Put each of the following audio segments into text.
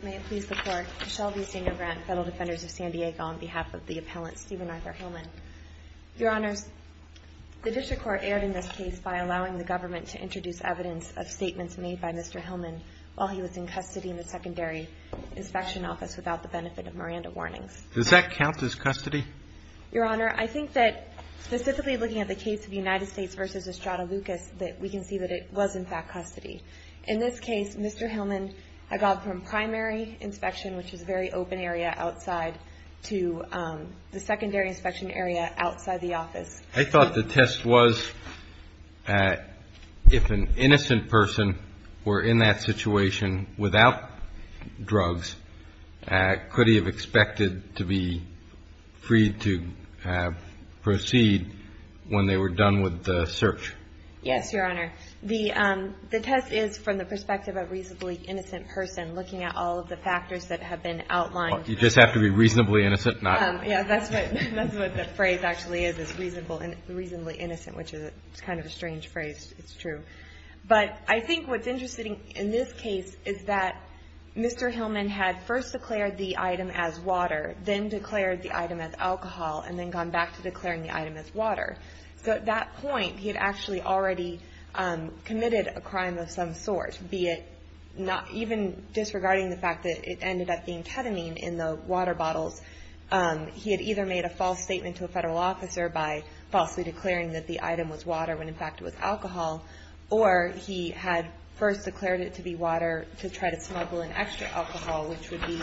on behalf of the appellant Stephen Arthur Hillman. Your Honor, the district court erred in this case by allowing the government to introduce evidence of statements made by Mr. Hillman while he was in custody in the secondary inspection office without the benefit of Miranda warnings. Does that count as custody? Your Honor, I think that specifically looking at the case of the United States v. Estrada Lucas, that we can see that it was in fact custody. In this case, Mr. Hillman had gone from primary inspection, which is a very open area outside, to the secondary inspection area outside the office. I thought the test was if an innocent person were in that situation without drugs, could he have expected to be freed to proceed when they were done with the search? Yes, Your Honor. The test is from the perspective of a reasonably innocent person looking at all of the factors that have been outlined. You just have to be reasonably innocent? Yes. That's what the phrase actually is, is reasonably innocent, which is kind of a strange phrase. It's true. But I think what's interesting in this case is that Mr. Hillman had first declared the item as water, then declared the item as alcohol, and then gone back to declaring the item as water. So at that point, he had actually already committed a crime of some sort, be it not even disregarding the fact that it ended up being ketamine in the water bottles. He had either made a false statement to a federal officer by falsely declaring that the item was water when, in fact, it was alcohol, or he had first declared it to be water to try to smuggle in extra alcohol, which would be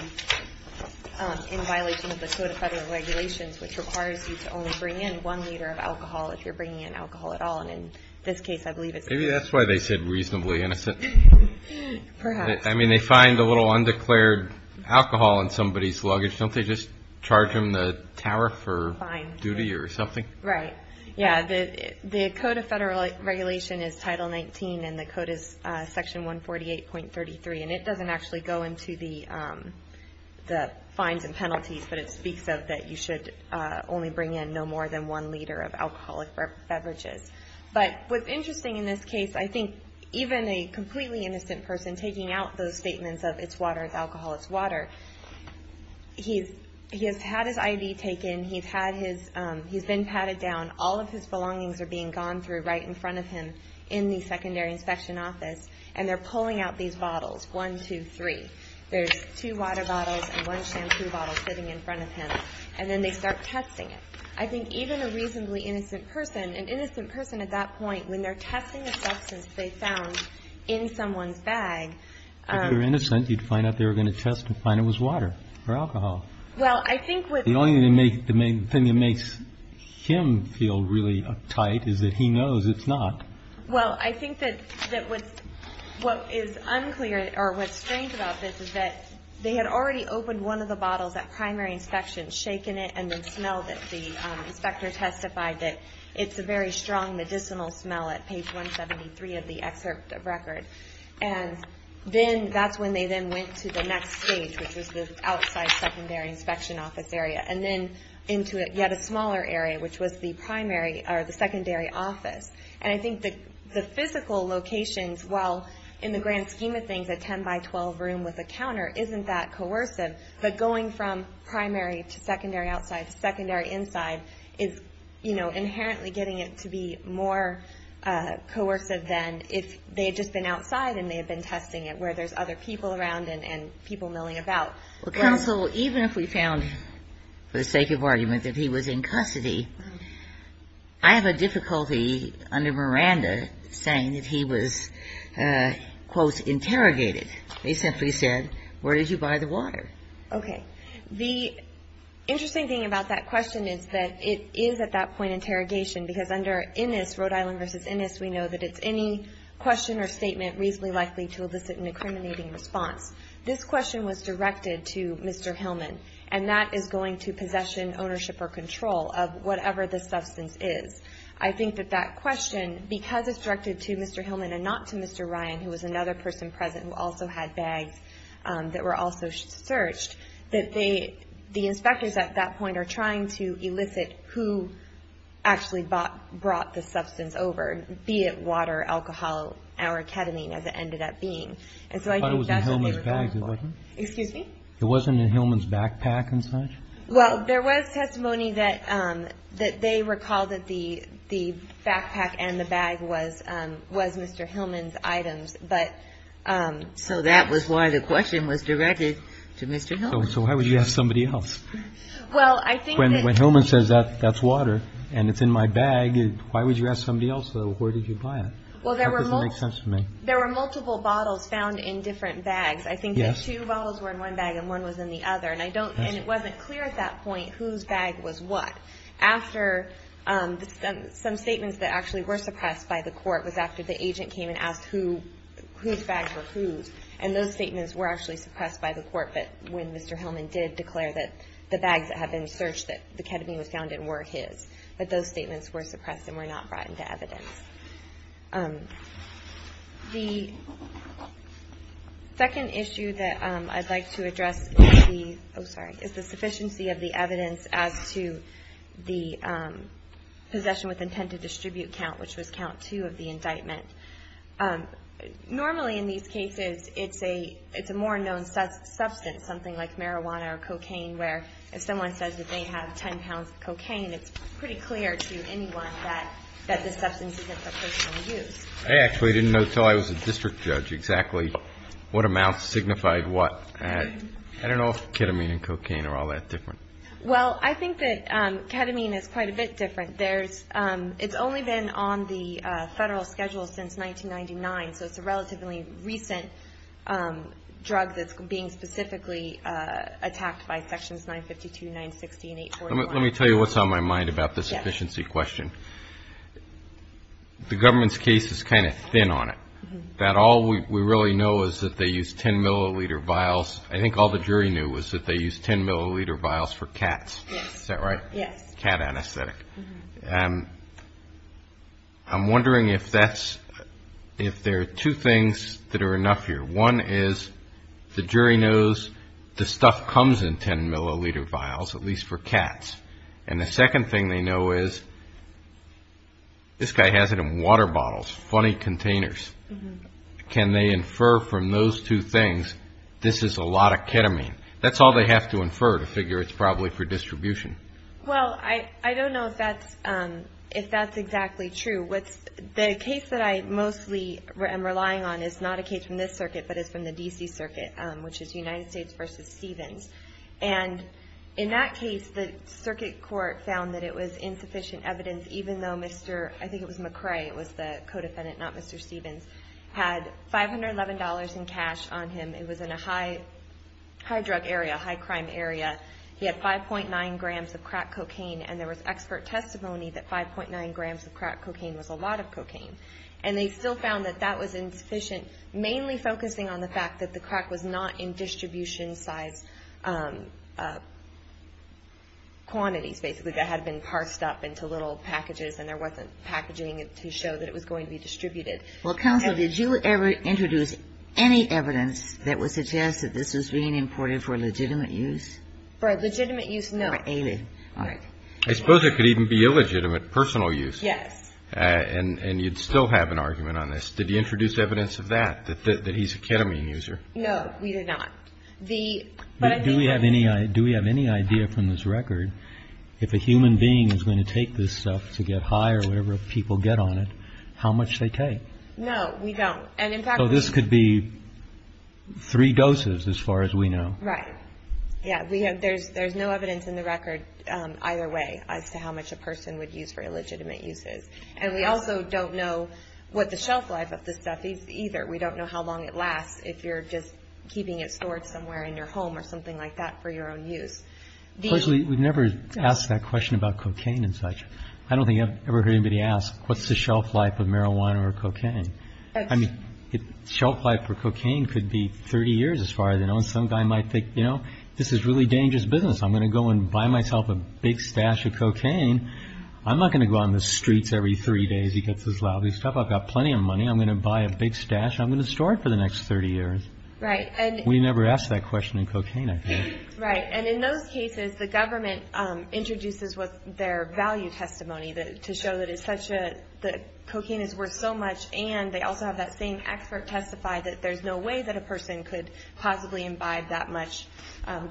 in violation of the Code of Federal Regulations, which requires you to only bring in one liter of alcohol if you're bringing in alcohol at all. And in this case, I believe it's not. Maybe that's why they said reasonably innocent. Perhaps. I mean, they find a little undeclared alcohol in somebody's luggage. Don't they just charge them the tariff or duty or something? Right. Yeah, the Code of Federal Regulation is Title 19, and the code is Section 148.33, and it doesn't actually go into the fines and penalties, but it speaks of that you should only bring in no more than one liter of alcoholic beverages. But what's interesting in this case, I think even a completely innocent person taking out those statements of, it's water, it's alcohol, it's water, he has had his IV taken, he's been patted down, all of his belongings are being gone through right in front of him in the secondary inspection office, and they're pulling out these bottles, one, two, three. There's two water bottles and one shampoo bottle sitting in front of him, and then they start testing it. I think even a reasonably innocent person, an innocent person at that point, when they're testing a substance they found in someone's bag. If they were innocent, you'd find out they were going to test and find it was water or alcohol. Well, I think what's... The only thing that makes him feel really uptight is that he knows it's not. Well, I think that what is unclear or what's strange about this is that they had already opened one of the bottles at primary inspection, shaken it, and then smelled it. The inspector testified that it's a very strong medicinal smell at page 173 of the excerpt of record. And then that's when they then went to the next stage, which was the outside secondary inspection office area, and then into yet a smaller area, which was the primary or the secondary office. And I think the physical locations, while in the grand scheme of things, a 10-by-12 room with a counter isn't that coercive, but going from primary to secondary outside to secondary inside is, you know, inherently getting it to be more coercive than if they had just been outside and they had been testing it where there's other people around and people milling about. Well, counsel, even if we found, for the sake of argument, that he was in custody, I have a difficulty under Miranda saying that he was, quote, interrogated. They simply said, where did you buy the water? Okay. The interesting thing about that question is that it is at that point interrogation, because under Innis, Rhode Island v. Innis, we know that it's any question or statement reasonably likely to elicit an incriminating response. This question was directed to Mr. Hillman, and that is going to possession, ownership, or control of whatever the substance is. I think that that question, because it's directed to Mr. Hillman and not to Mr. Ryan, who was another person present who also had bags that were also searched, that the inspectors at that point are trying to elicit who actually brought the substance over, be it water, alcohol, or ketamine, as it ended up being. And so I think that's what they were going for. Excuse me? It wasn't in Hillman's backpack and such? Well, there was testimony that they recalled that the backpack and the bag was Mr. Hillman's items. But so that was why the question was directed to Mr. Hillman. So why would you ask somebody else? Well, I think that. When Hillman says that's water and it's in my bag, why would you ask somebody else, though? Where did you buy it? Well, there were. That doesn't make sense to me. There were multiple bottles found in different bags. I think that two bottles were in one bag and one was in the other. And it wasn't clear at that point whose bag was what. Some statements that actually were suppressed by the court was after the agent came and asked whose bags were whose. And those statements were actually suppressed by the court when Mr. Hillman did declare that the bags that had been searched, that the ketamine was found in, were his. But those statements were suppressed and were not brought into evidence. The second issue that I'd like to address is the sufficiency of the evidence as to the possession with intent to distribute count, which was count two of the indictment. Normally in these cases it's a more known substance, something like marijuana or cocaine, where if someone says that they have 10 pounds of cocaine, it's pretty clear to anyone that this substance isn't for personal use. I actually didn't know until I was a district judge exactly what amounts signified what. I don't know if ketamine and cocaine are all that different. Well, I think that ketamine is quite a bit different. It's only been on the federal schedule since 1999, so it's a relatively recent drug that's being specifically attacked by Sections 952, 960, and 841. Let me tell you what's on my mind about the sufficiency question. The government's case is kind of thin on it, that all we really know is that they use 10 milliliter vials. I think all the jury knew was that they use 10 milliliter vials for cats. Is that right? Yes. Cat anesthetic. I'm wondering if there are two things that are enough here. One is the jury knows the stuff comes in 10 milliliter vials, at least for cats, and the second thing they know is this guy has it in water bottles, funny containers. Can they infer from those two things this is a lot of ketamine? That's all they have to infer to figure it's probably for distribution. Well, I don't know if that's exactly true. The case that I mostly am relying on is not a case from this circuit, but is from the D.C. circuit, which is United States v. Stevens. And in that case, the circuit court found that it was insufficient evidence even though Mr. I think it was McCray, it was the co-defendant, not Mr. Stevens, had $511 in cash on him. It was in a high drug area, high crime area. He had 5.9 grams of crack cocaine, and there was expert testimony that 5.9 grams of crack cocaine was a lot of cocaine. And they still found that that was insufficient, mainly focusing on the fact that the crack was not in distribution size quantities, basically, that had been parsed up into little packages and there wasn't packaging to show that it was going to be distributed. Well, counsel, did you ever introduce any evidence that would suggest that this was being imported for legitimate use? For legitimate use? No. I suppose it could even be illegitimate personal use. Yes. And you'd still have an argument on this. Did you introduce evidence of that, that he's a ketamine user? No, we did not. Do we have any idea from this record if a human being is going to take this stuff to get high or whatever people get on it, how much they take? No, we don't. So this could be three doses as far as we know. Right. Yeah, there's no evidence in the record either way as to how much a person would use for illegitimate uses. And we also don't know what the shelf life of this stuff is either. We don't know how long it lasts if you're just keeping it stored somewhere in your home or something like that for your own use. Personally, we've never asked that question about cocaine and such. I don't think I've ever heard anybody ask, what's the shelf life of marijuana or cocaine? I mean, shelf life for cocaine could be 30 years as far as I know, and some guy might think, you know, this is really dangerous business. I'm going to go and buy myself a big stash of cocaine. I'm not going to go on the streets every three days. He gets his lousy stuff. I've got plenty of money. I'm going to buy a big stash. I'm going to store it for the next 30 years. Right. We never asked that question in cocaine, I think. Right. And in those cases, the government introduces their value testimony to show that cocaine is worth so much, and they also have that same expert testify that there's no way that a person could possibly imbibe that much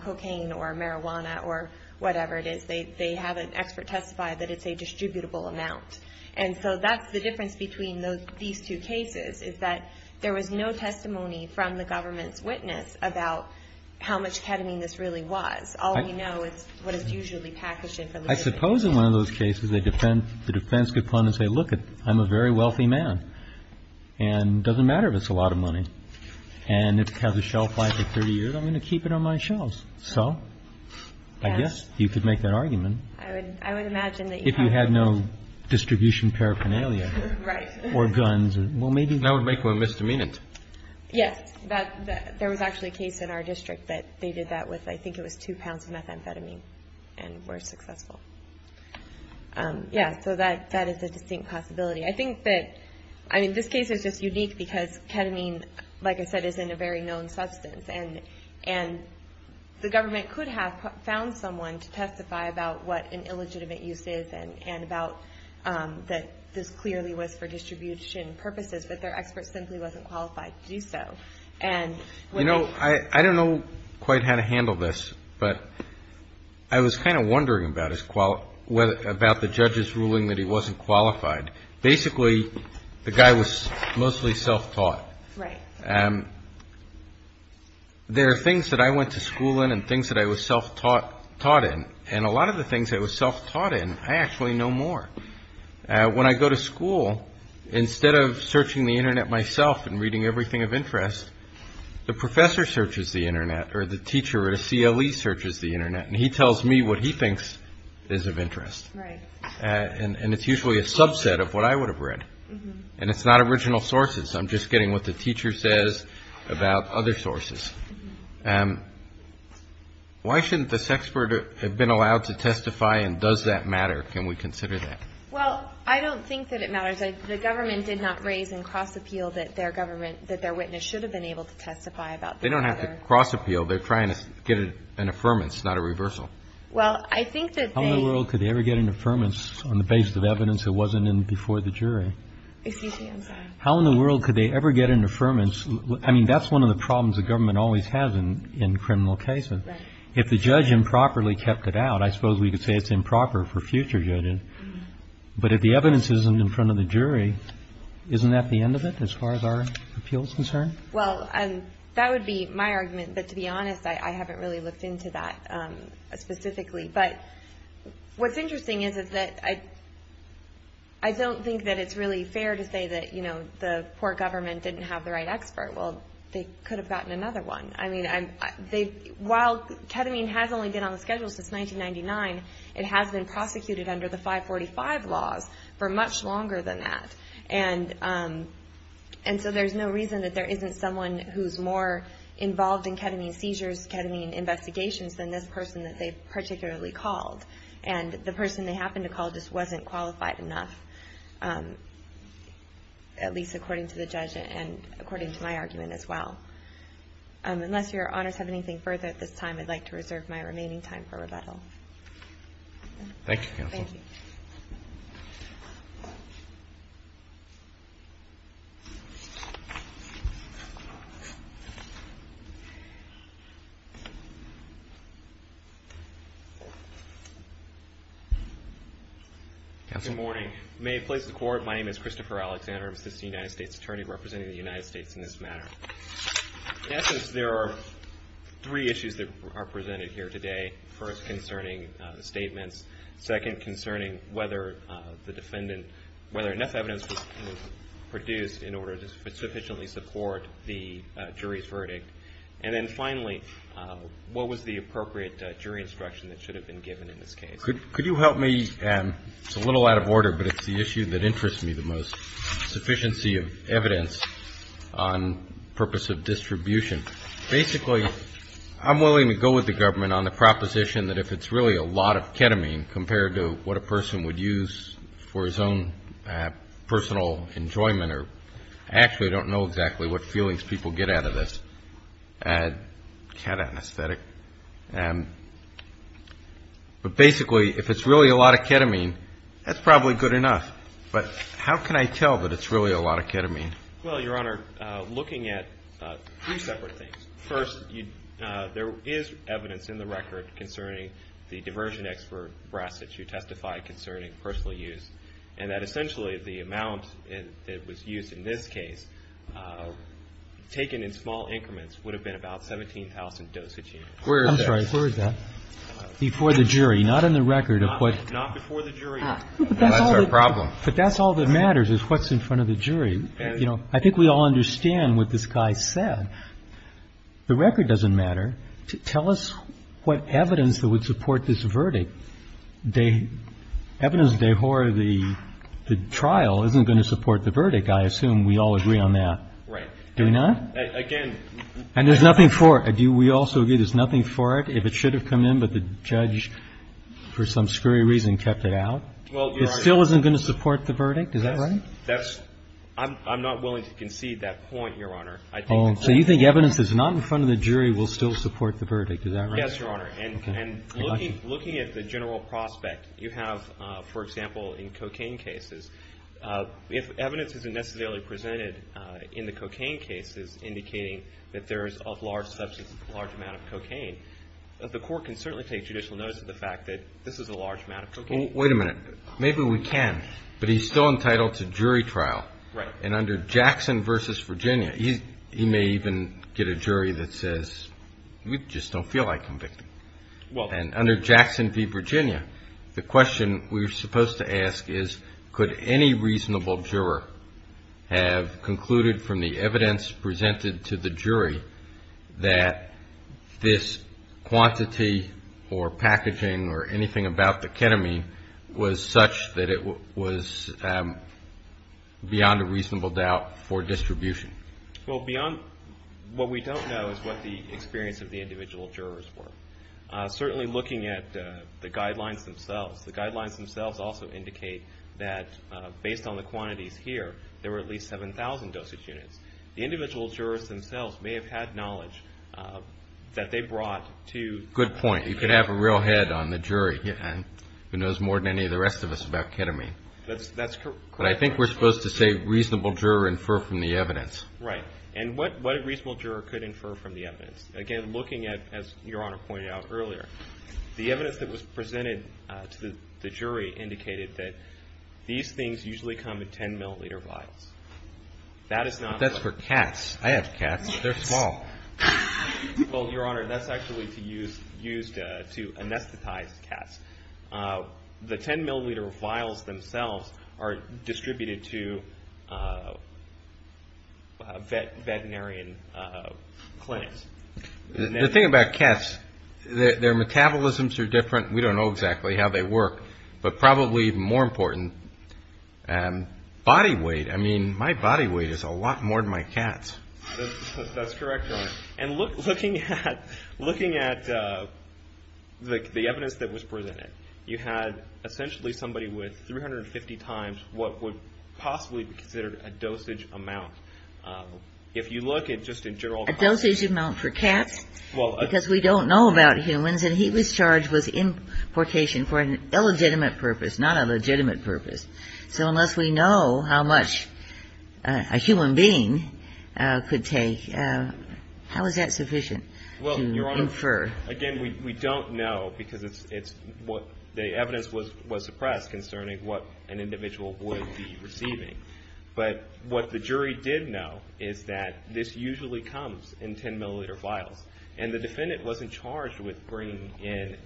cocaine or marijuana or whatever it is. They have an expert testify that it's a distributable amount. And so that's the difference between these two cases, is that there was no testimony from the government's witness about how much ketamine this really was. All we know is what is usually packaged in for legal defense. I suppose in one of those cases the defense could come and say, Well, look, I'm a very wealthy man, and it doesn't matter if it's a lot of money. And it has a shelf life of 30 years. I'm going to keep it on my shelves. So I guess you could make that argument. I would imagine that you have no distribution paraphernalia. Right. Or guns. That would make one misdemeanant. Yes. There was actually a case in our district that they did that with, I think it was, two pounds of methamphetamine and were successful. Yes. So that is a distinct possibility. I think that, I mean, this case is just unique because ketamine, like I said, is in a very known substance. And the government could have found someone to testify about what an illegitimate use is and about that this clearly was for distribution purposes, but their expert simply wasn't qualified to do so. You know, I don't know quite how to handle this, but I was kind of wondering about the judge's ruling that he wasn't qualified. Basically, the guy was mostly self-taught. Right. There are things that I went to school in and things that I was self-taught in. And a lot of the things I was self-taught in, I actually know more. When I go to school, instead of searching the Internet myself and reading everything of interest, the professor searches the Internet or the teacher at a CLE searches the Internet and he tells me what he thinks is of interest. Right. And it's usually a subset of what I would have read. And it's not original sources. I'm just getting what the teacher says about other sources. Why shouldn't this expert have been allowed to testify and does that matter? Can we consider that? Well, I don't think that it matters. The government did not raise in cross-appeal that their government, that their witness should have been able to testify about the other. They don't have to cross-appeal. They're trying to get an affirmance, not a reversal. Well, I think that they... How in the world could they ever get an affirmance on the basis of evidence that wasn't in before the jury? Excuse me. I'm sorry. How in the world could they ever get an affirmance? I mean, that's one of the problems the government always has in criminal cases. Right. If the judge improperly kept it out, I suppose we could say it's improper for future judges. But if the evidence isn't in front of the jury, isn't that the end of it as far as our appeal is concerned? Well, that would be my argument. But to be honest, I haven't really looked into that specifically. But what's interesting is that I don't think that it's really fair to say that, you know, the poor government didn't have the right expert. Well, they could have gotten another one. I mean, while ketamine has only been on the schedule since 1999, it has been prosecuted under the 545 laws for much longer than that. And so there's no reason that there isn't someone who's more involved in ketamine seizures, ketamine investigations than this person that they particularly called. And the person they happened to call just wasn't qualified enough, at least according to the judge and according to my argument as well. Unless Your Honors have anything further at this time, I'd like to reserve my remaining time for rebuttal. Thank you, Counsel. Thank you. Counsel. Good morning. May it please the Court, my name is Christopher Alexander. I'm an attorney in the United States Attorney representing the United States in this matter. In essence, there are three issues that are presented here today. First, concerning statements. Second, concerning whether the defendant, whether enough evidence was produced in order to sufficiently support the jury's verdict. And then finally, what was the appropriate jury instruction that should have been given in this case? Could you help me? Okay. It's a little out of order, but it's the issue that interests me the most, sufficiency of evidence on purpose of distribution. Basically, I'm willing to go with the government on the proposition that if it's really a lot of ketamine compared to what a person would use for his own personal enjoyment, or actually I don't know exactly what feelings people get out of this ketamine aesthetic. But basically, if it's really a lot of ketamine, that's probably good enough. But how can I tell that it's really a lot of ketamine? Well, Your Honor, looking at three separate things. First, there is evidence in the record concerning the diversion expert breast that you testified concerning personal use. And that essentially the amount that was used in this case, taken in small increments, would have been about 17,000 dosage units. I'm sorry. Where is that? Before the jury. Not in the record. Not before the jury. That's our problem. But that's all that matters is what's in front of the jury. You know, I think we all understand what this guy said. The record doesn't matter. Tell us what evidence that would support this verdict. Evidence that the trial isn't going to support the verdict, I assume we all agree on that. Right. Do we not? Again. And there's nothing for it. We also agree there's nothing for it. If it should have come in, but the judge, for some scurry reason, kept it out. It still isn't going to support the verdict. Is that right? I'm not willing to concede that point, Your Honor. So you think evidence that's not in front of the jury will still support the verdict. Is that right? Yes, Your Honor. And looking at the general prospect you have, for example, in cocaine cases, if evidence isn't necessarily presented in the cocaine cases indicating that there is a large amount of cocaine, the court can certainly take judicial notice of the fact that this is a large amount of cocaine. Wait a minute. Maybe we can. But he's still entitled to jury trial. Right. And under Jackson v. Virginia, he may even get a jury that says, we just don't feel like convicting. And under Jackson v. Virginia, the question we're supposed to ask is, could any reasonable juror have concluded from the evidence presented to the jury that this quantity or packaging or anything about the ketamine was such that it was beyond a reasonable doubt for distribution? Well, beyond what we don't know is what the experience of the individual jurors were. Certainly looking at the guidelines themselves, the guidelines themselves also indicate that based on the quantities here, there were at least 7,000 dosage units. The individual jurors themselves may have had knowledge that they brought to the jury. Good point. You could have a real head on the jury who knows more than any of the rest of us about ketamine. That's correct. But I think we're supposed to say reasonable juror infer from the evidence. Right. And what a reasonable juror could infer from the evidence? Again, looking at, as Your Honor pointed out earlier, the evidence that was presented to the jury indicated that these things usually come in 10 milliliter vials. That is not. That's for cats. I have cats. They're small. Well, Your Honor, that's actually used to anesthetize cats. The 10 milliliter vials themselves are distributed to veterinarian clinics. The thing about cats, their metabolisms are different. We don't know exactly how they work. But probably more important, body weight. I mean, my body weight is a lot more than my cat's. That's correct, Your Honor. And looking at the evidence that was presented, you had essentially somebody with 350 times what would possibly be considered a dosage amount. If you look at just in general. A dosage amount for cats because we don't know about humans, and he was charged with importation for an illegitimate purpose, not a legitimate purpose. So unless we know how much a human being could take, how is that sufficient to infer? Again, we don't know because the evidence was suppressed concerning what an individual would be receiving. But what the jury did know is that this usually comes in 10 milliliter vials. And the defendant wasn't charged with bringing in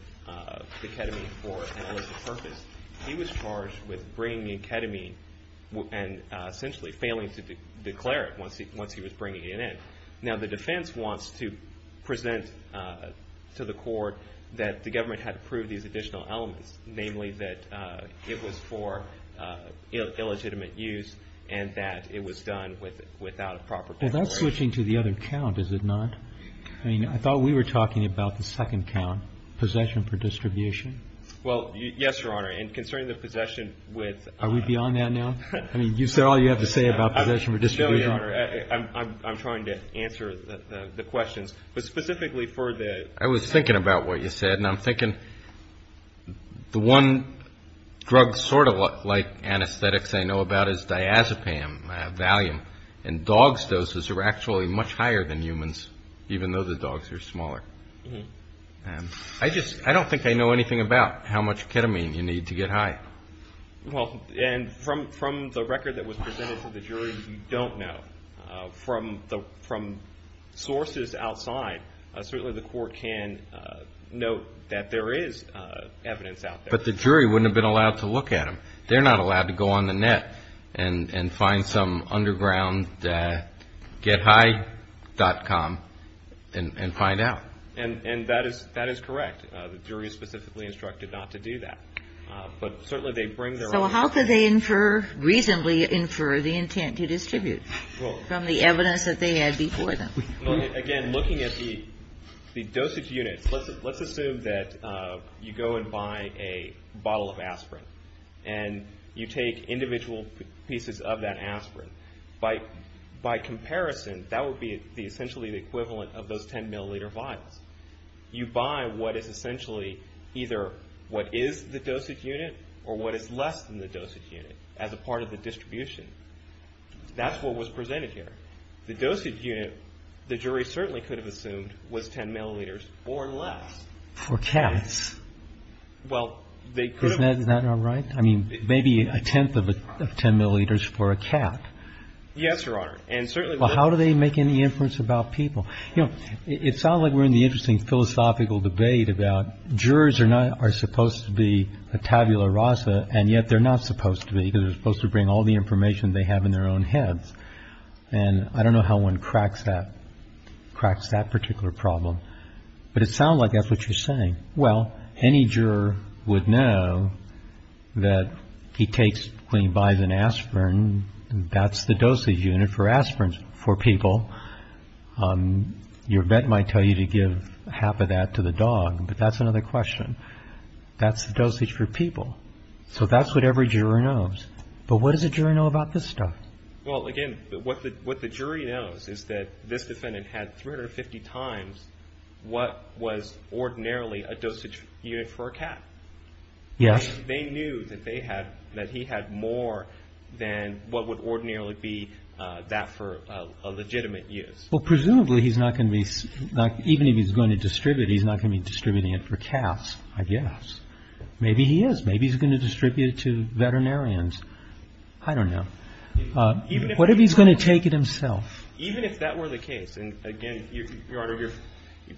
the ketamine for an illicit purpose. He was charged with bringing in ketamine and essentially failing to declare it once he was bringing it in. Now the defense wants to present to the court that the government had approved these additional elements. Namely that it was for illegitimate use and that it was done without a proper declaration. Well, that's switching to the other count, is it not? I mean, I thought we were talking about the second count, possession for distribution. Well, yes, Your Honor. And concerning the possession with... Are we beyond that now? I mean, is that all you have to say about possession for distribution? No, Your Honor. I'm trying to answer the questions. But specifically for the... I was thinking about what you said, and I'm thinking the one drug sort of like anesthetics I know about is diazepam, Valium. And dogs' doses are actually much higher than humans, even though the dogs are smaller. I just, I don't think I know anything about how much ketamine you need to get high. Well, and from the record that was presented to the jury, you don't know. From sources outside, certainly the court can note that there is evidence out there. But the jury wouldn't have been allowed to look at them. They're not allowed to go on the net and find some underground gethigh.com and find out. And that is correct. The jury is specifically instructed not to do that. But certainly they bring their own... So how could they infer, reasonably infer, the intent to distribute from the evidence that they had before them? Again, looking at the dosage units, let's assume that you go and buy a bottle of aspirin. And you take individual pieces of that aspirin. By comparison, that would be essentially the equivalent of those 10 milliliter vials. You buy what is essentially either what is the dosage unit or what is less than the dosage unit as a part of the distribution. That's what was presented here. The dosage unit, the jury certainly could have assumed was 10 milliliters or less. For cats? Well, they could have... Isn't that not right? I mean, maybe a tenth of 10 milliliters for a cat. Yes, Your Honor. And certainly... Well, how do they make any inference about people? You know, it sounds like we're in the interesting philosophical debate about jurors are supposed to be a tabula rasa, and yet they're not supposed to be because they're supposed to bring all the information they have in their own heads. And I don't know how one cracks that, cracks that particular problem. But it sounds like that's what you're saying. Well, any juror would know that he takes, when he buys an aspirin, that's the dosage unit for aspirins for people. Your vet might tell you to give half of that to the dog, but that's another question. That's the dosage for people. So that's what every juror knows. But what does a jury know about this stuff? Well, again, what the jury knows is that this defendant had 350 times what was ordinarily a dosage unit for a cat. Yes. They knew that he had more than what would ordinarily be that for a legitimate use. Well, presumably he's not going to be... Even if he's going to distribute, he's not going to be distributing it for cats, I guess. Maybe he is. Maybe he's going to distribute it to veterinarians. I don't know. What if he's going to take it himself? Even if that were the case, and again, Your Honor,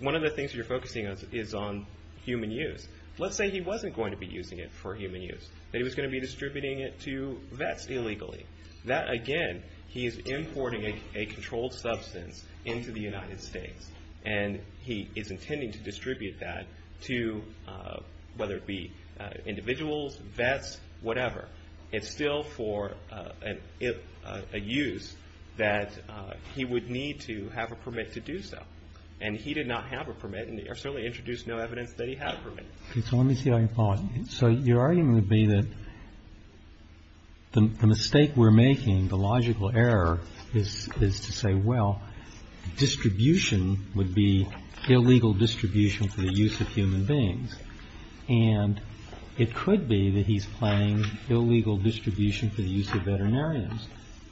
one of the things you're focusing on is on human use. Let's say he wasn't going to be using it for human use, that he was going to be distributing it to vets illegally. That, again, he is importing a controlled substance into the United States. And he is intending to distribute that to, whether it be individuals, vets, whatever. It's still for a use that he would need to have a permit to do so. And he did not have a permit, and certainly introduced no evidence that he had a permit. Okay, so let me see how you're following. So your argument would be that the mistake we're making, the logical error, is to say, well, distribution would be illegal distribution for the use of human beings. And it could be that he's planning illegal distribution for the use of veterinarians.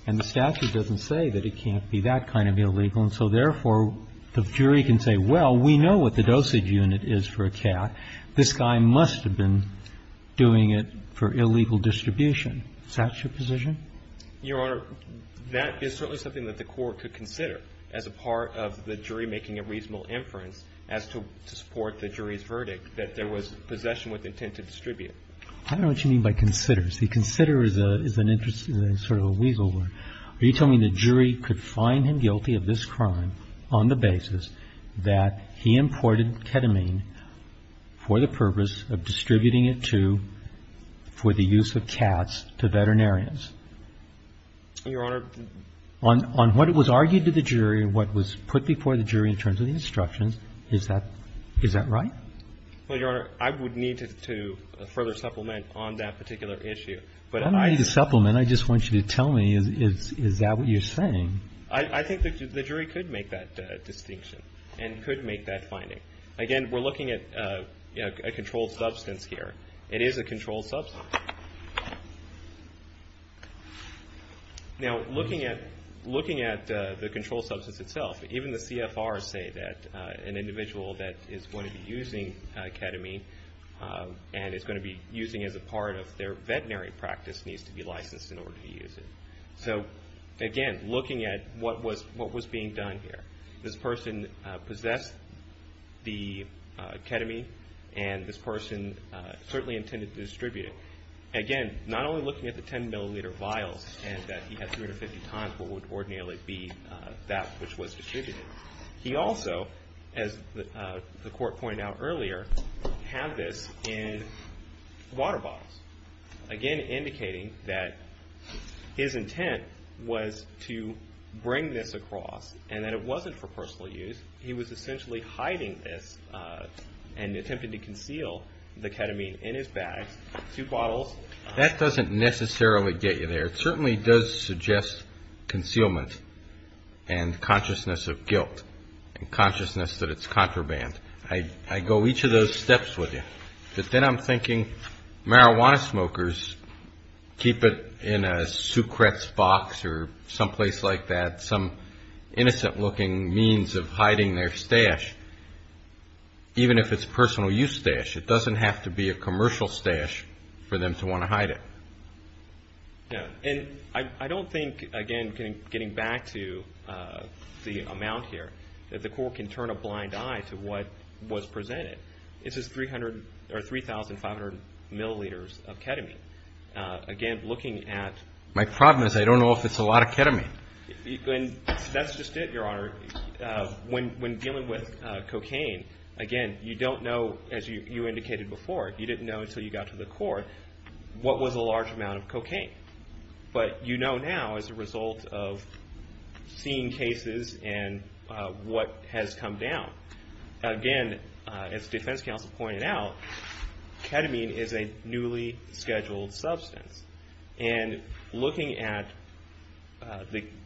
And the statute doesn't say that it can't be that kind of illegal. And so, therefore, the jury can say, well, we know what the dosage unit is for a cat. This guy must have been doing it for illegal distribution. Is that your position? Your Honor, that is certainly something that the Court could consider as a part of the jury making a reasonable inference as to support the jury's verdict, that there was possession with intent to distribute. I don't know what you mean by consider. See, consider is an interesting, sort of a weasel word. Are you telling me the jury could find him guilty of this crime on the basis that he imported ketamine for the purpose of distributing it to, for the use of cats, to veterinarians? Your Honor. On what was argued to the jury and what was put before the jury in terms of the instructions, is that right? Well, Your Honor, I would need to further supplement on that particular issue. I don't need to supplement. I just want you to tell me, is that what you're saying? I think the jury could make that distinction and could make that finding. Again, we're looking at a controlled substance here. It is a controlled substance. Now, looking at the controlled substance itself, even the CFRs say that an individual that is going to be using ketamine and is going to be using it as a part of their veterinary practice needs to be licensed in order to use it. So, again, looking at what was being done here. This person possessed the ketamine and this person certainly intended to distribute it. Again, not only looking at the 10 milliliter vials and that he had 350 tons, what would ordinarily be that which was distributed. He also, as the court pointed out earlier, had this in water bottles. Again, indicating that his intent was to bring this across and that it wasn't for personal use. He was essentially hiding this and attempted to conceal the ketamine in his bag. That doesn't necessarily get you there. It certainly does suggest concealment and consciousness of guilt and consciousness that it's contraband. I go each of those steps with you. But then I'm thinking marijuana smokers keep it in a Sucrex box or someplace like that, some innocent-looking means of hiding their stash. Even if it's personal-use stash, it doesn't have to be a commercial stash for them to want to hide it. And I don't think, again, getting back to the amount here, that the court can turn a blind eye to what was presented. This is 3,500 milliliters of ketamine. Again, looking at my problem is I don't know if it's a lot of ketamine. That's just it, Your Honor. When dealing with cocaine, again, you don't know, as you indicated before, you didn't know until you got to the court what was a large amount of cocaine. But you know now as a result of seeing cases and what has come down. Again, as the defense counsel pointed out, ketamine is a newly scheduled substance. And looking at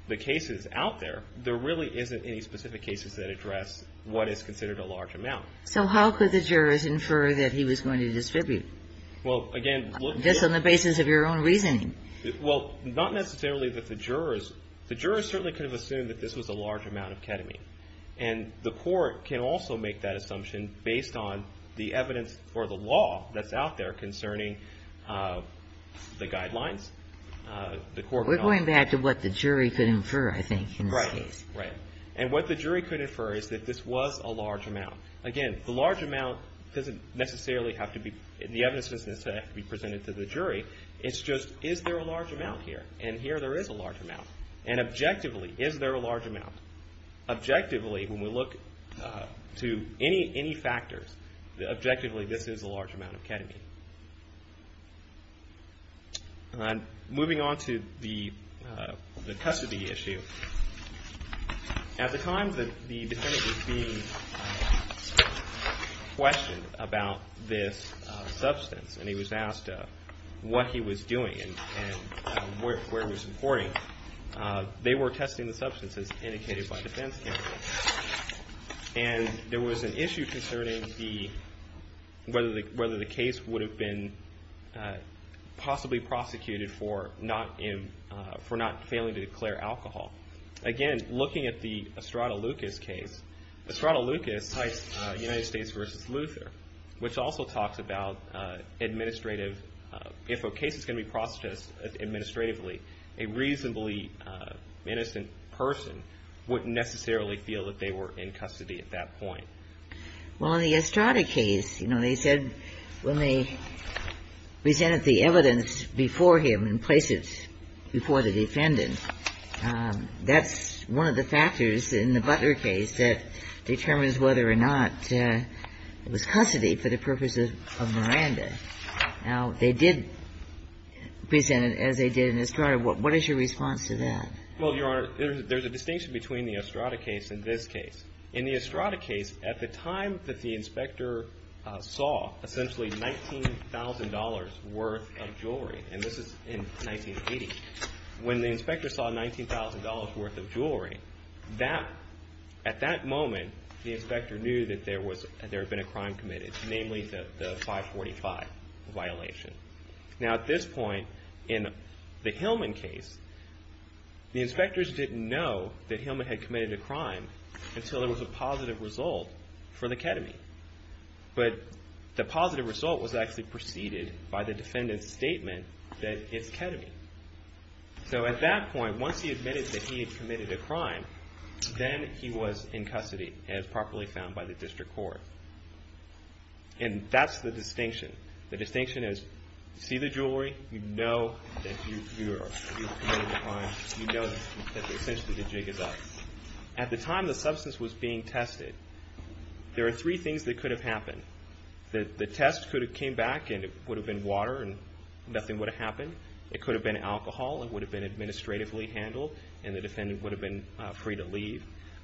the cases out there, there really isn't any specific cases that address what is considered a large amount. So how could the jurors infer that he was going to distribute this on the basis of your own reasoning? Well, not necessarily that the jurors. The jurors certainly could have assumed that this was a large amount of ketamine. And the court can also make that assumption based on the evidence for the law that's out there concerning the guidelines. We're going back to what the jury could infer, I think, in this case. Right, right. And what the jury could infer is that this was a large amount. Again, the large amount doesn't necessarily have to be, the evidence doesn't necessarily have to be presented to the jury. It's just is there a large amount here? And here there is a large amount. And objectively, is there a large amount? Objectively, when we look to any factors, objectively, this is a large amount of ketamine. Moving on to the custody issue, at the time that the defendant was being questioned about this substance and he was asked what he was doing and where he was reporting, they were testing the substances indicated by defense counsel. And there was an issue concerning whether the case would have been possibly prosecuted for not failing to declare alcohol. Again, looking at the Estrada Lucas case, Estrada Lucas cites United States v. Luther, which also talks about administrative, if a case is going to be processed administratively, a reasonably innocent person wouldn't necessarily feel that they were in custody at that point. Well, in the Estrada case, you know, they said when they presented the evidence before him and placed it before the defendant, that's one of the factors in the Butler case that determines whether or not it was custody for the purposes of Miranda. Now, they did present it as they did in Estrada. What is your response to that? Well, Your Honor, there's a distinction between the Estrada case and this case. In the Estrada case, at the time that the inspector saw essentially $19,000 worth of jewelry, and this is in 1980, when the inspector saw $19,000 worth of jewelry, at that moment, the inspector knew that there had been a crime committed, namely the 545 violation. Now, at this point, in the Hillman case, the inspectors didn't know that Hillman had committed a crime until there was a positive result for the ketamine. But the positive result was actually preceded by the defendant's statement that it's ketamine. So at that point, once he admitted that he had committed a crime, then he was in custody as properly found by the district court. And that's the distinction. The distinction is you see the jewelry, you know that you committed a crime, you know that essentially the jig is up. At the time the substance was being tested, there are three things that could have happened. The test could have came back and it would have been water and nothing would have happened. And the defendant would have been free to leave.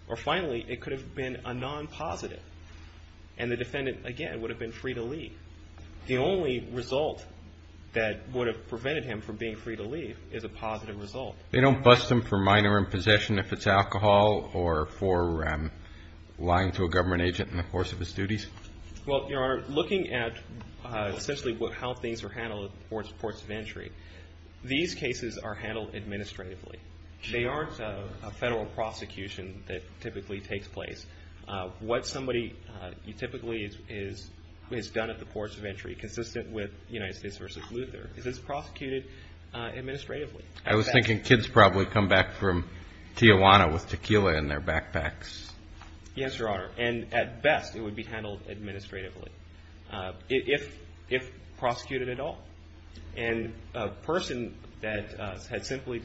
Or finally, it could have been a non-positive. And the defendant, again, would have been free to leave. The only result that would have prevented him from being free to leave is a positive result. They don't bust him for minor impossession if it's alcohol or for lying to a government agent in the course of his duties? Well, Your Honor, looking at essentially how things are handled at ports of entry, these cases are handled administratively. They aren't a federal prosecution that typically takes place. What somebody typically has done at the ports of entry, consistent with United States v. Luther, is it's prosecuted administratively. I was thinking kids probably come back from Tijuana with tequila in their backpacks. Yes, Your Honor. And at best it would be handled administratively, if prosecuted at all. And a person that had simply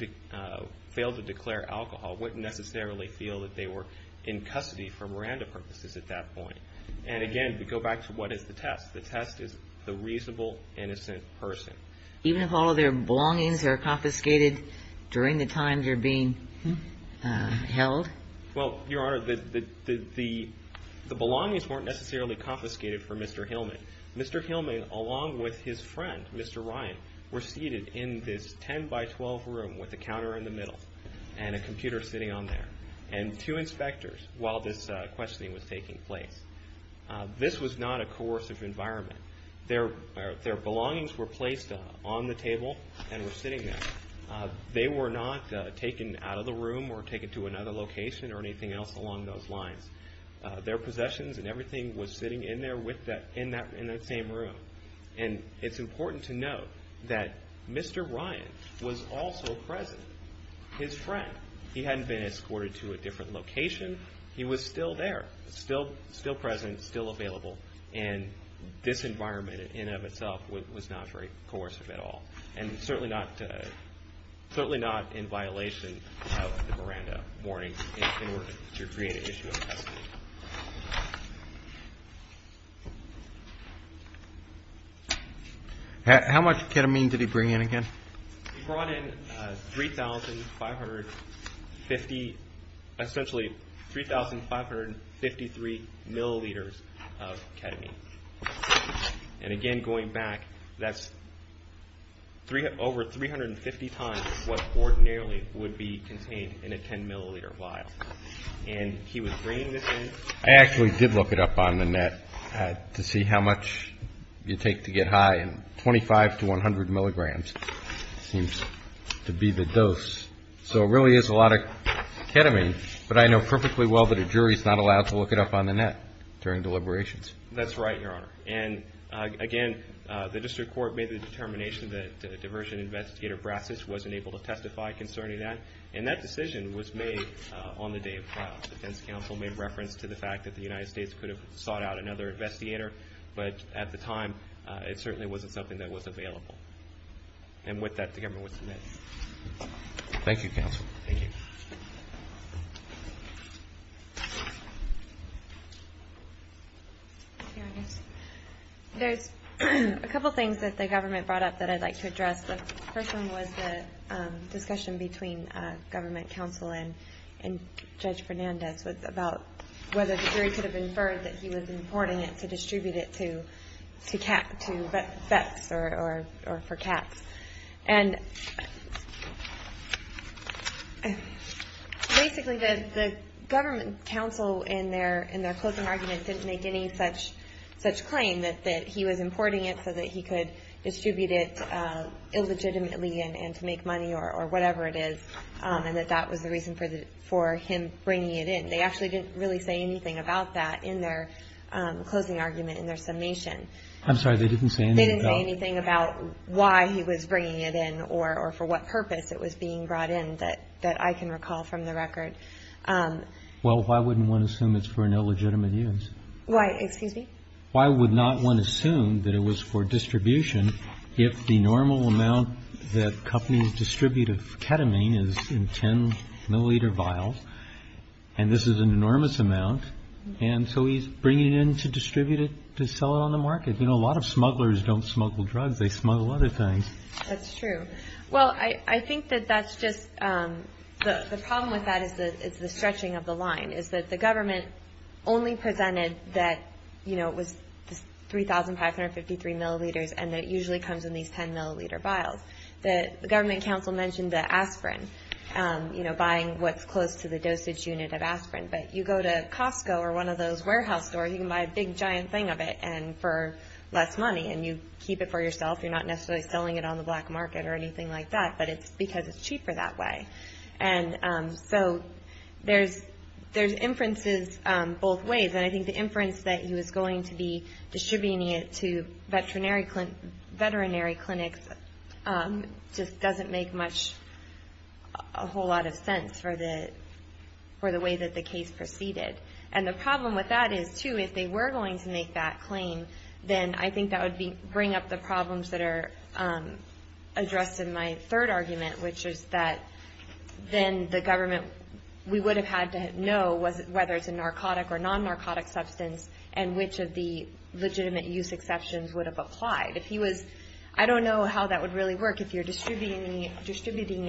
failed to declare alcohol wouldn't necessarily feel that they were in custody for Miranda purposes at that point. And again, we go back to what is the test. The test is the reasonable, innocent person. Even if all of their belongings are confiscated during the time they're being held? Well, Your Honor, the belongings weren't necessarily confiscated for Mr. Hillman. Mr. Hillman, along with his friend, Mr. Ryan, were seated in this 10 by 12 room with a counter in the middle and a computer sitting on there, and two inspectors while this questioning was taking place. This was not a coercive environment. Their belongings were placed on the table and were sitting there. They were not taken out of the room or taken to another location or anything else along those lines. Their possessions and everything was sitting in that same room. And it's important to note that Mr. Ryan was also present. His friend, he hadn't been escorted to a different location. He was still there, still present, still available, and this environment in and of itself was not very coercive at all. And certainly not in violation of the Miranda warning in order to create an issue of custody. How much ketamine did he bring in again? He brought in 3,550, essentially 3,553 milliliters of ketamine. And again, going back, that's over 350 times what ordinarily would be contained in a 10 milliliter vial. And he was bringing this in. I actually did look it up on the net to see how much you take to get high, and 25 to 100 milligrams seems to be the dose. So it really is a lot of ketamine, but I know perfectly well that a jury is not allowed to look it up on the net during deliberations. That's right, Your Honor. And again, the district court made the determination that diversion investigator Brassis wasn't able to testify concerning that, and that decision was made on the day of trial. The defense counsel made reference to the fact that the United States could have sought out another investigator, but at the time it certainly wasn't something that was available. And with that, the government would submit. Thank you, counsel. Thank you. There's a couple things that the government brought up that I'd like to address. The first one was the discussion between government counsel and Judge Fernandez about whether the jury could have inferred that he was importing it to distribute it to vets or for cats. And basically the government counsel in their closing argument didn't make any such claim that he was importing it so that he could distribute it illegitimately and to make money or whatever it is, and that that was the reason for him bringing it in. They actually didn't really say anything about that in their closing argument, in their summation. I'm sorry. They didn't say anything. They didn't say anything about why he was bringing it in or for what purpose it was being brought in that I can recall from the record. Well, why wouldn't one assume it's for an illegitimate use? Why? Excuse me? Why would not one assume that it was for distribution if the normal amount that companies distribute of ketamine is in 10-milliliter vials, and this is an enormous amount, and so he's bringing it in to distribute it to sell it on the market. You know, a lot of smugglers don't smuggle drugs. They smuggle other things. That's true. Well, I think that that's just the problem with that is it's the stretching of the line, is that the government only presented that, you know, it was 3,553 milliliters, and it usually comes in these 10-milliliter vials. The government counsel mentioned the aspirin, you know, buying what's close to the dosage unit of aspirin. But you go to Costco or one of those warehouse stores, you can buy a big, giant thing of it, and for less money, and you keep it for yourself. You're not necessarily selling it on the black market or anything like that, but it's because it's cheaper that way. And so there's inferences both ways, and I think the inference that he was going to be distributing it to veterinary clinics just doesn't make much, a whole lot of sense for the way that the case proceeded. And the problem with that is, too, if they were going to make that claim, then I think that would bring up the problems that are addressed in my third argument, which is that then the government, we would have had to know whether it's a narcotic or non-narcotic substance and which of the legitimate use exceptions would have applied. I don't know how that would really work if you're distributing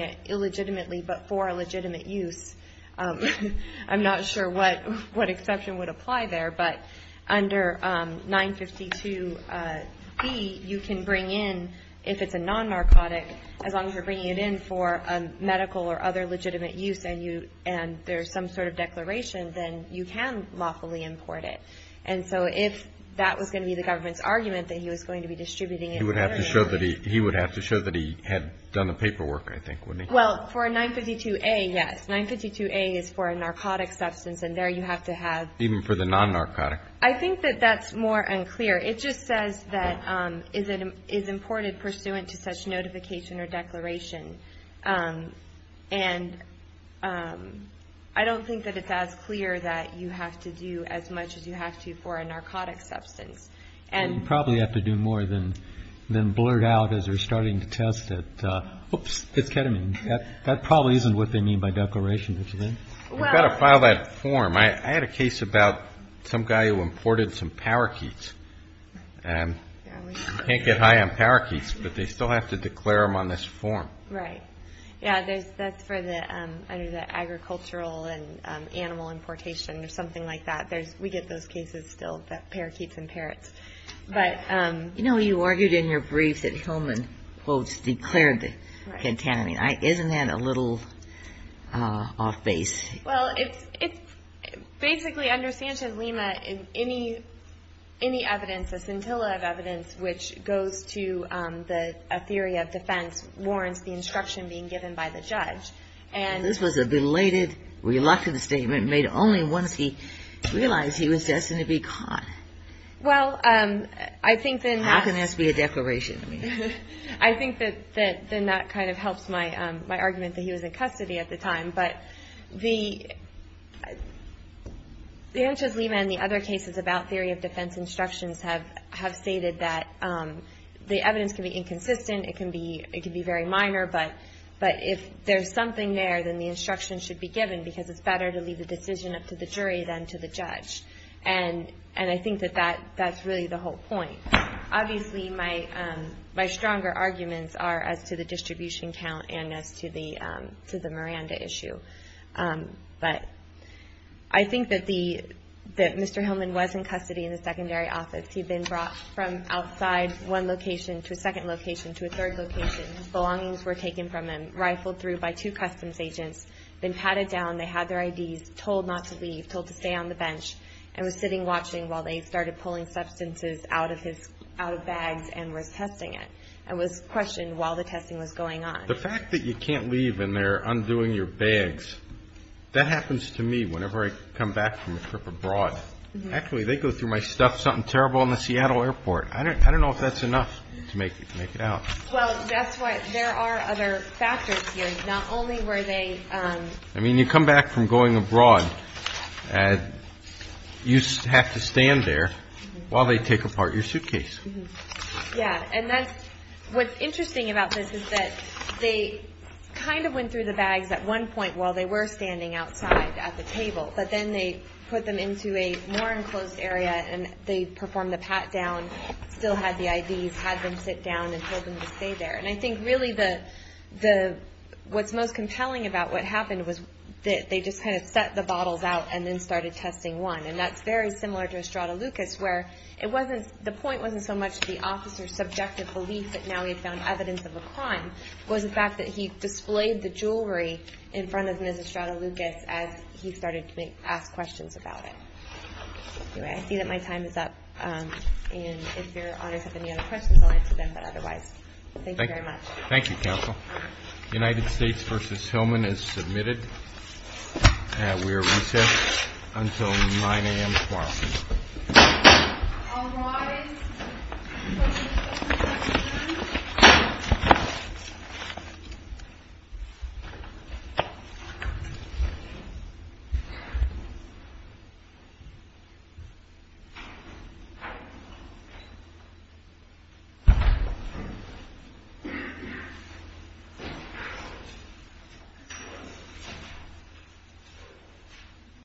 it illegitimately but for a legitimate use. I'm not sure what exception would apply there. But under 952B, you can bring in, if it's a non-narcotic, as long as you're bringing it in for medical or other legitimate use and there's some sort of declaration, then you can lawfully import it. And so if that was going to be the government's argument that he was going to be distributing it illegally. He would have to show that he had done the paperwork, I think, wouldn't he? Well, for 952A, yes. 952A is for a narcotic substance and there you have to have. Even for the non-narcotic? I think that that's more unclear. It just says that it is imported pursuant to such notification or declaration. And I don't think that it's as clear that you have to do as much as you have to for a narcotic substance. You probably have to do more than blurt out as you're starting to test it. Oops, it's ketamine. That probably isn't what they mean by declaration, is it? You've got to file that form. I had a case about some guy who imported some parakeets. You can't get high on parakeets, but they still have to declare them on this form. Right. Yeah, that's for the agricultural and animal importation or something like that. We get those cases still, parakeets and parrots. You know, you argued in your brief that Hillman, quote, declared the ketamine. Isn't that a little off base? Well, it's basically under Sanchez Lima, any evidence, a scintilla of evidence, which goes to a theory of defense warrants the instruction being given by the judge. This was a belated, reluctant statement made only once he realized he was destined to be caught. Well, I think then that's. How can this be a declaration? I think that then that kind of helps my argument that he was in custody at the time. But the Sanchez Lima and the other cases about theory of defense instructions have stated that the evidence can be inconsistent. It can be very minor, but if there's something there, then the instruction should be given, because it's better to leave the decision up to the jury than to the judge. And I think that that's really the whole point. Obviously, my stronger arguments are as to the distribution count and as to the Miranda issue. But I think that Mr. Hillman was in custody in the secondary office. He'd been brought from outside one location to a second location to a third location. His belongings were taken from him, rifled through by two customs agents, then patted down. They had their IDs, told not to leave, told to stay on the bench, and was sitting watching while they started pulling substances out of bags and was testing it and was questioned while the testing was going on. The fact that you can't leave and they're undoing your bags, that happens to me whenever I come back from a trip abroad. Actually, they go through my stuff, something terrible in the Seattle airport. I don't know if that's enough to make it out. Well, that's why there are other factors here. I mean, you come back from going abroad, you have to stand there while they take apart your suitcase. Yeah, and what's interesting about this is that they kind of went through the bags at one point while they were standing outside at the table, but then they put them into a more enclosed area and they performed the pat down, still had the IDs, had them sit down and told them to stay there. And I think really what's most compelling about what happened was that they just kind of set the bottles out and then started testing one. And that's very similar to Estrada Lucas, where the point wasn't so much the officer's subjective belief that now he had found evidence of a crime. It was the fact that he displayed the jewelry in front of Ms. Estrada Lucas as he started to ask questions about it. Anyway, I see that my time is up. And if your audience has any other questions, I'll answer them. But otherwise, thank you very much. Thank you, Counsel. United States v. Hillman is submitted. We are recessed until 9 a.m. tomorrow. All rise. Thank you.